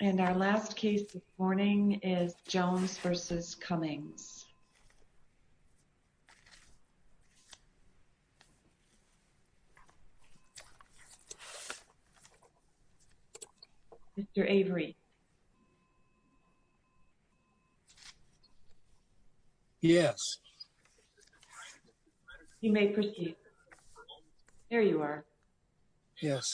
and our last case this morning is Jones v. Cummings Mr. Avery yes you may proceed there you are yes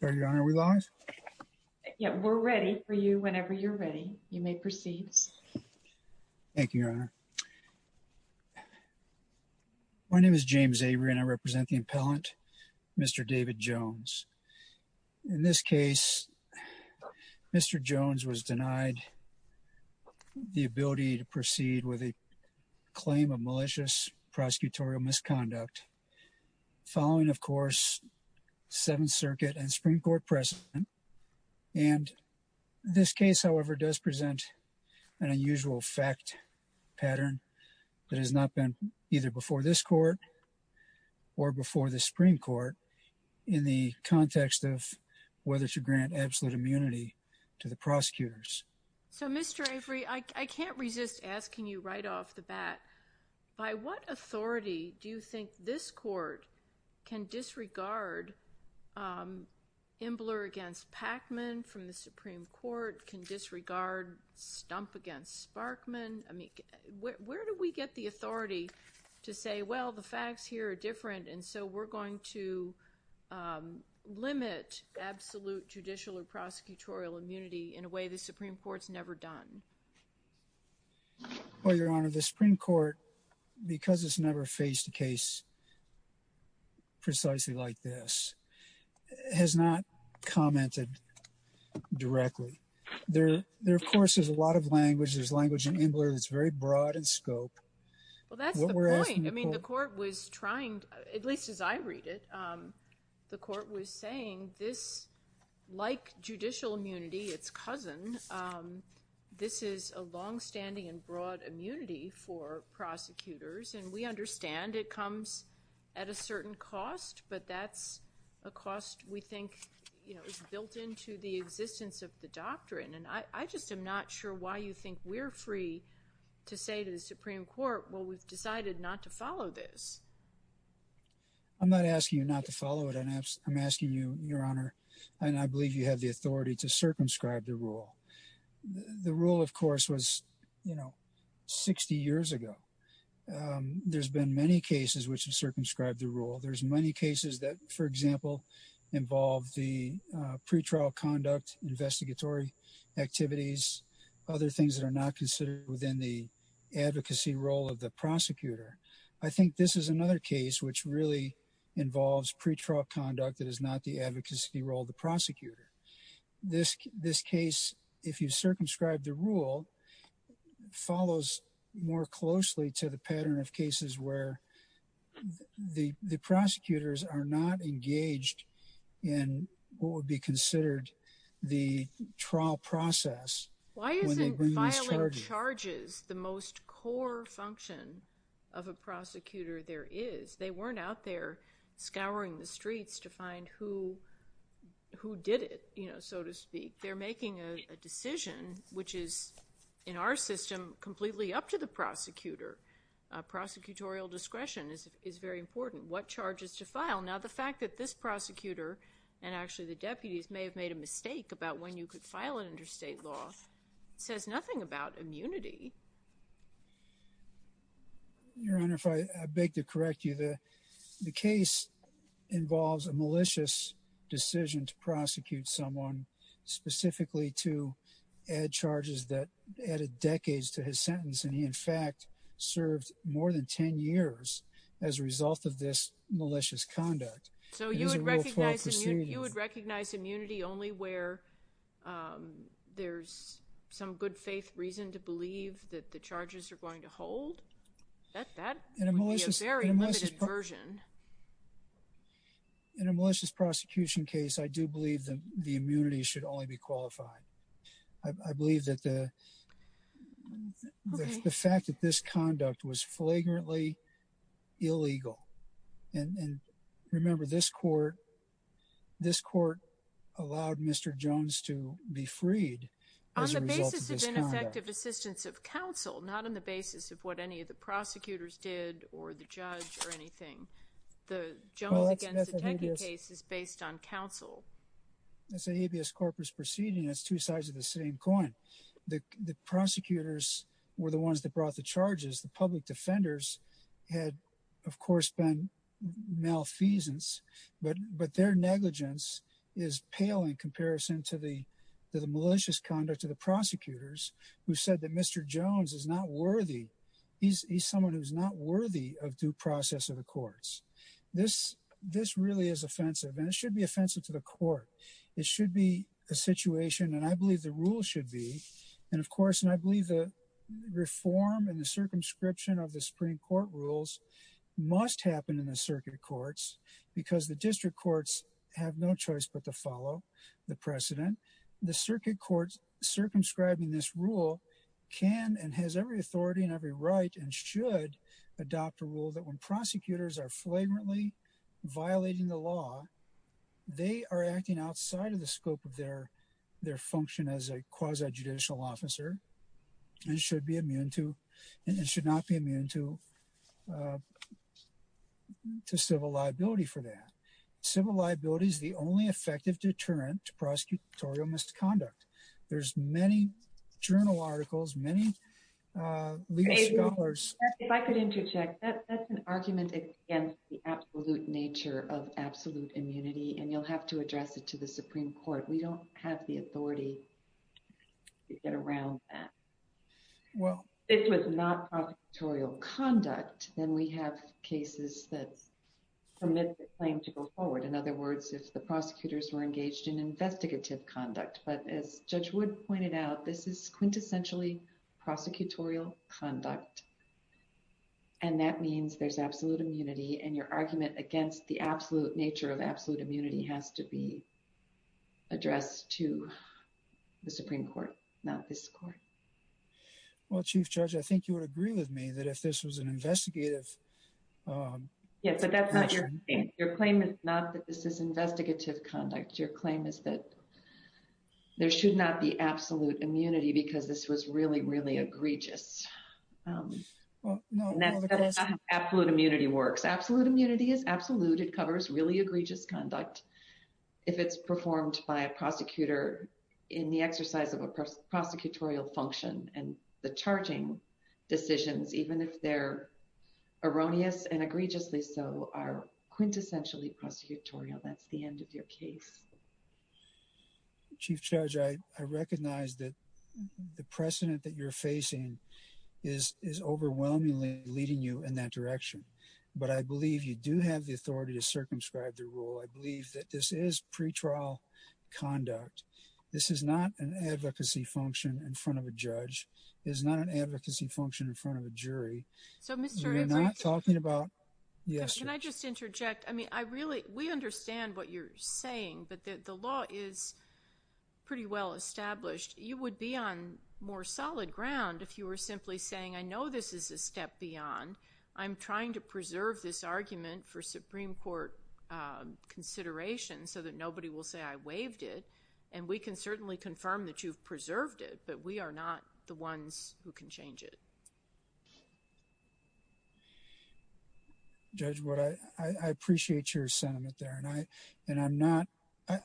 sir your honor we lost yeah we're ready for you whenever you're ready you may proceed thank you my name is James Avery and I represent the appellant mr. David Jones in this case mr. Jones was denied the ability to proceed with a claim of malicious prosecutorial misconduct following of course Seventh an unusual fact pattern that has not been either before this court or before the Supreme Court in the context of whether to grant absolute immunity to the prosecutors so mr. Avery I can't resist asking you right off the bat by what authority do you think this court can disregard Imbler against Pacman from the Supreme Court can disregard stump against Sparkman I mean where do we get the authority to say well the facts here are different and so we're going to limit absolute judicial or prosecutorial immunity in a way the Supreme Court's never done well your honor the Supreme Court because it's never faced a case precisely like this has not commented directly there there of course there's a lot of language there's language in Imbler that's very broad in scope I mean the court was trying at least as I read it the court was saying this like judicial immunity its cousin this is a long-standing and broad immunity for at a certain cost but that's a cost we think you know it's built into the existence of the doctrine and I just am not sure why you think we're free to say to the Supreme Court well we've decided not to follow this I'm not asking you not to follow it and I'm asking you your honor and I believe you have the authority to circumscribe the rule the rule of course was you know 60 years ago there's been many cases which have circumscribed the rule there's many cases that for example involve the pretrial conduct investigatory activities other things that are not considered within the advocacy role of the prosecutor I think this is another case which really involves pretrial conduct that is not the advocacy role the prosecutor this this case if you circumscribe the rule follows more closely to the pattern of cases where the the prosecutors are not engaged in what would be considered the trial process why isn't filing charges the most core function of a prosecutor there is they weren't out there scouring the streets to find who who did it you know so to speak they're making a decision which is in our system completely up to the prosecutor prosecutorial discretion is very important what charges to file now the fact that this prosecutor and actually the deputies may have made a mistake about when you could file an interstate law says nothing about immunity your honor if I beg to correct you the the case involves a malicious decision to add charges that added decades to his sentence and he in fact served more than ten years as a result of this malicious conduct so you would recognize you would recognize immunity only where there's some good-faith reason to believe that the charges are going to hold in a malicious very limited version in a malicious prosecution case I do believe them the immunity should only be I believe that the fact that this conduct was flagrantly illegal and remember this court this court allowed mr. Jones to be freed assistance of counsel not on the basis of what any of the prosecutors did or the judge or two sides of the same coin the prosecutors were the ones that brought the charges the public defenders had of course been malfeasance but but their negligence is pale in comparison to the the malicious conduct of the prosecutors who said that mr. Jones is not worthy he's someone who's not worthy of due process of the courts this this really is offensive and it should be offensive to the court it should be a situation and I believe the rule should be and of course and I believe the reform and the circumscription of the Supreme Court rules must happen in the circuit courts because the district courts have no choice but to follow the precedent the circuit courts circumscribing this rule can and has every authority and every right and should adopt a rule that when are acting outside of the scope of their their function as a quasi judicial officer and should be immune to and should not be immune to to civil liability for that civil liability is the only effective deterrent to prosecutorial misconduct there's many journal articles many if I could interject that that's an argument against the absolute nature of absolute immunity and you'll have to address it to the Supreme Court we don't have the authority to get around that well it was not prosecutorial conduct then we have cases that's from this claim to go forward in other words if the prosecutors were engaged in investigative conduct but as Judge Wood pointed out this is quintessentially prosecutorial conduct and that means there's absolute immunity and your argument against the absolute nature of absolute immunity has to be addressed to the Supreme Court not this court well Chief Judge I think you would agree with me that if this was an investigative yes but that's not your claim is not that this is investigative conduct your claim is that there should not be absolute immunity because this was really really egregious absolute immunity works absolute immunity is absolute it covers really egregious conduct if it's performed by a prosecutor in the exercise of a prosecutorial function and the charging decisions even if they're erroneous and egregiously so are quintessentially prosecutorial that's the end of your case Chief Judge I recognize that the precedent that you're facing is is overwhelmingly leading you in that to circumscribe the rule I believe that this is pretrial conduct this is not an advocacy function in front of a judge is not an advocacy function in front of a jury so mr. not talking about yes can I just interject I mean I really we understand what you're saying but the law is pretty well established you would be on more solid ground if you were simply saying I know this is a step beyond I'm trying to preserve this argument for Supreme Court consideration so that nobody will say I waived it and we can certainly confirm that you've preserved it but we are not the ones who can change it judge what I appreciate your sentiment there and I and I'm not I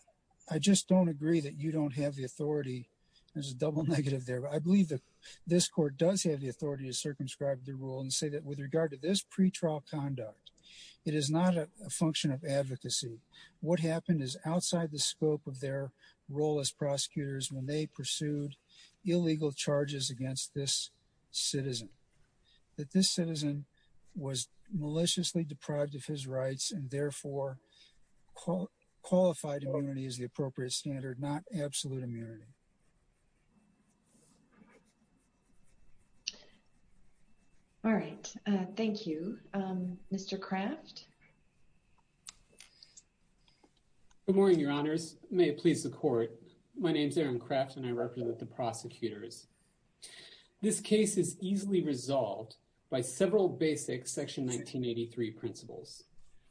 I just don't agree that you don't have the authority there's a double negative there but I believe that this court does have the authority to circumscribe the rule and say that with regard to this pretrial conduct it is not a function of advocacy what happened is outside the scope of their role as prosecutors when they pursued illegal charges against this citizen that this citizen was maliciously deprived of his rights and therefore qualified immunity is the appropriate standard not absolute all right thank you mr. craft good morning your honors may it please the court my name is Aaron crafts and I represent the prosecutors this case is easily resolved by several basic section 1983 principles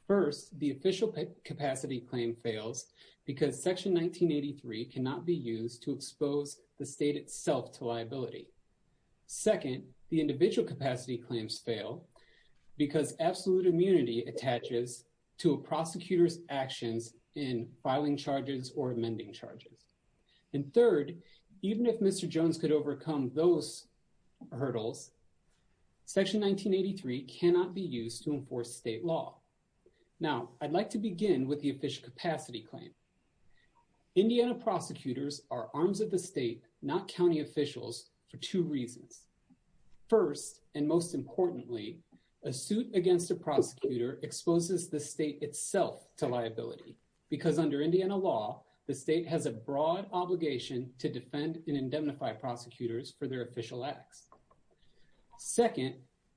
first the official capacity claim fails because section 1983 cannot be used to expose the state itself to liability second the individual capacity claims fail because absolute immunity attaches to a prosecutor's actions in filing charges or amending charges and third even if mr. Jones could overcome those hurdles section 1983 cannot be used to enforce state law now I'd like to begin with the official capacity claim Indiana prosecutors are arms of the state not county officials for two reasons first and most importantly a suit against a prosecutor exposes the state itself to liability because under Indiana law the state has a broad obligation to defend and indemnify prosecutors for their official acts second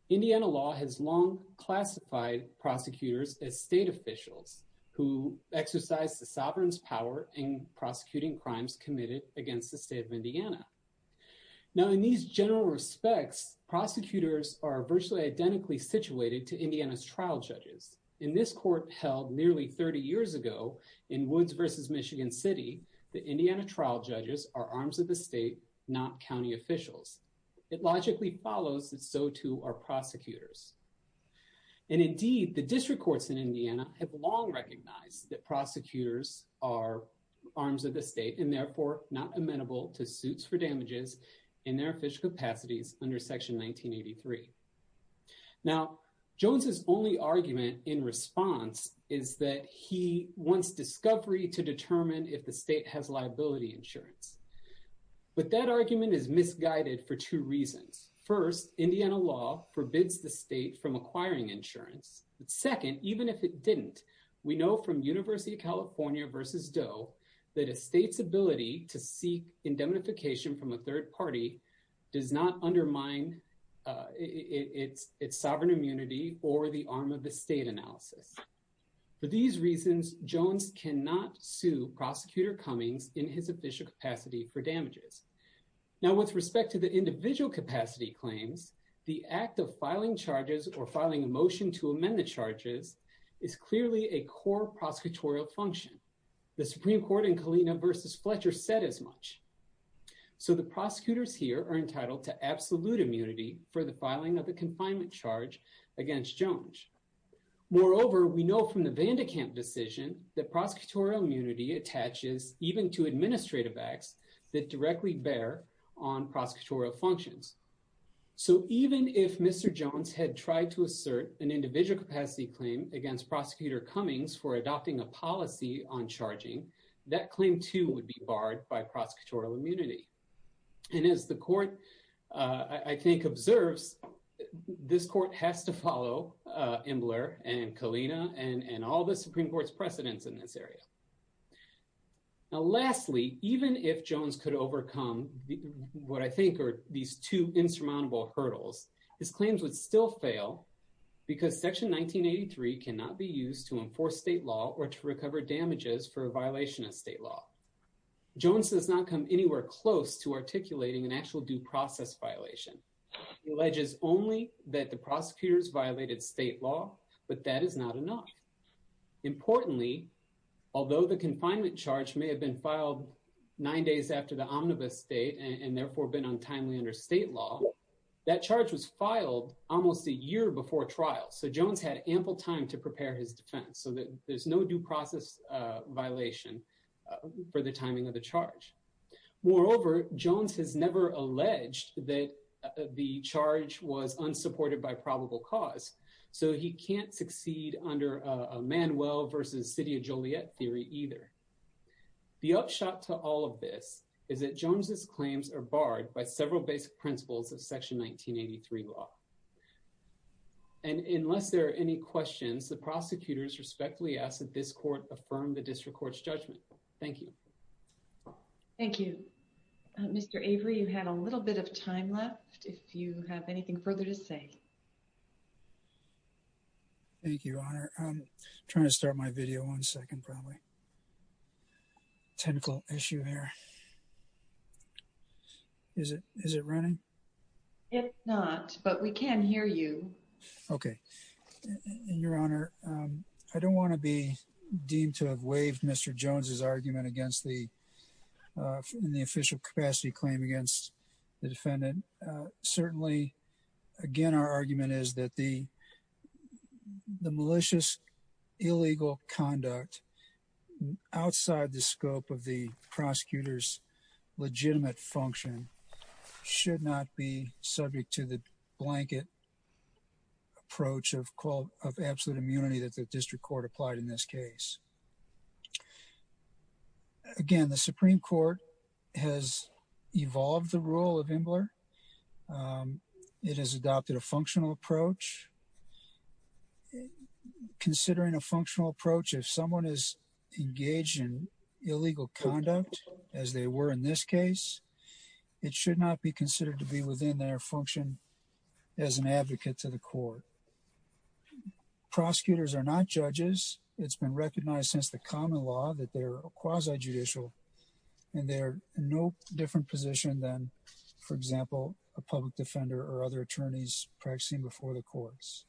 Indiana law has long classified prosecutors as state officials who exercise the sovereign's power in prosecuting crimes committed against the state of Indiana now in these general respects prosecutors are virtually identically situated to Indiana's trial judges in this court held nearly 30 years ago in Woods versus Michigan City the Indiana trial judges are arms of the state not county officials it logically follows that so to our prosecutors and indeed the district courts in Indiana have long recognized that prosecutors are arms of the state and therefore not amenable to suits for damages in their official capacities under section 1983 now Jones's only argument in response is that he wants discovery to determine if the but that argument is misguided for two reasons first Indiana law forbids the state from acquiring insurance second even if it didn't we know from University of California versus Doe that a state's ability to seek indemnification from a third party does not undermine its its sovereign immunity or the arm of the state analysis for these reasons Jones cannot sue prosecutor Cummings in his capacity for damages now with respect to the individual capacity claims the act of filing charges or filing a motion to amend the charges is clearly a core prosecutorial function the Supreme Court in Kalina versus Fletcher said as much so the prosecutors here are entitled to absolute immunity for the filing of the confinement charge against Jones moreover we know from the Vandercamp decision that prosecutorial immunity attaches even to administrative acts that directly bear on prosecutorial functions so even if mr. Jones had tried to assert an individual capacity claim against prosecutor Cummings for adopting a policy on charging that claim to would be barred by prosecutorial immunity and as the court I think observes this court has to follow Imler and Kalina and and all the Supreme Court's precedents in this area now lastly even if Jones could overcome what I think are these two insurmountable hurdles his claims would still fail because section 1983 cannot be used to enforce state law or to recover damages for a violation of state law Jones does not come anywhere close to articulating an actual due process violation alleges only that the importantly although the confinement charge may have been filed nine days after the omnibus date and therefore been untimely under state law that charge was filed almost a year before trial so Jones had ample time to prepare his defense so that there's no due process violation for the timing of the charge moreover Jones has never alleged that the charge was unsupported by Manuel versus City of Joliet theory either the upshot to all of this is that Jones's claims are barred by several basic principles of section 1983 law and unless there are any questions the prosecutors respectfully ask that this court affirm the district courts judgment thank you thank you mr. Avery you had a little bit of time left if you have anything further to say thank you I'm trying to start my video one second probably technical issue here is it is it running it's not but we can hear you okay your honor I don't want to be deemed to have waived mr. Jones's argument against the in the official capacity claim against the defendant certainly again our argument is that the the malicious illegal conduct outside the scope of the prosecutors legitimate function should not be subject to the blanket approach of call of absolute immunity that the district court applied in this case again the Supreme Court has considering a functional approach if someone is engaged in illegal conduct as they were in this case it should not be considered to be within their function as an advocate to the court prosecutors are not judges it's been recognized since the common law that they're a quasi judicial and they're no different position than for example a public defender or other attorneys practicing before the courts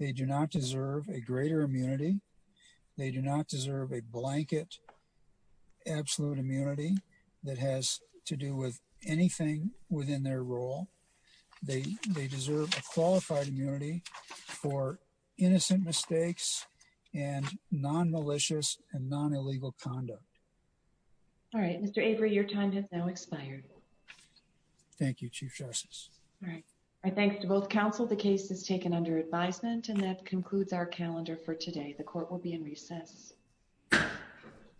they do not deserve a greater immunity they do not deserve a blanket absolute immunity that has to do with anything within their role they deserve a qualified immunity for innocent mistakes and non-malicious and non-illegal conduct all right mr. Avery your time has now expired thank you chief justice I thank you both counsel the case is taken under advisement and that concludes our calendar for today the court will be in recess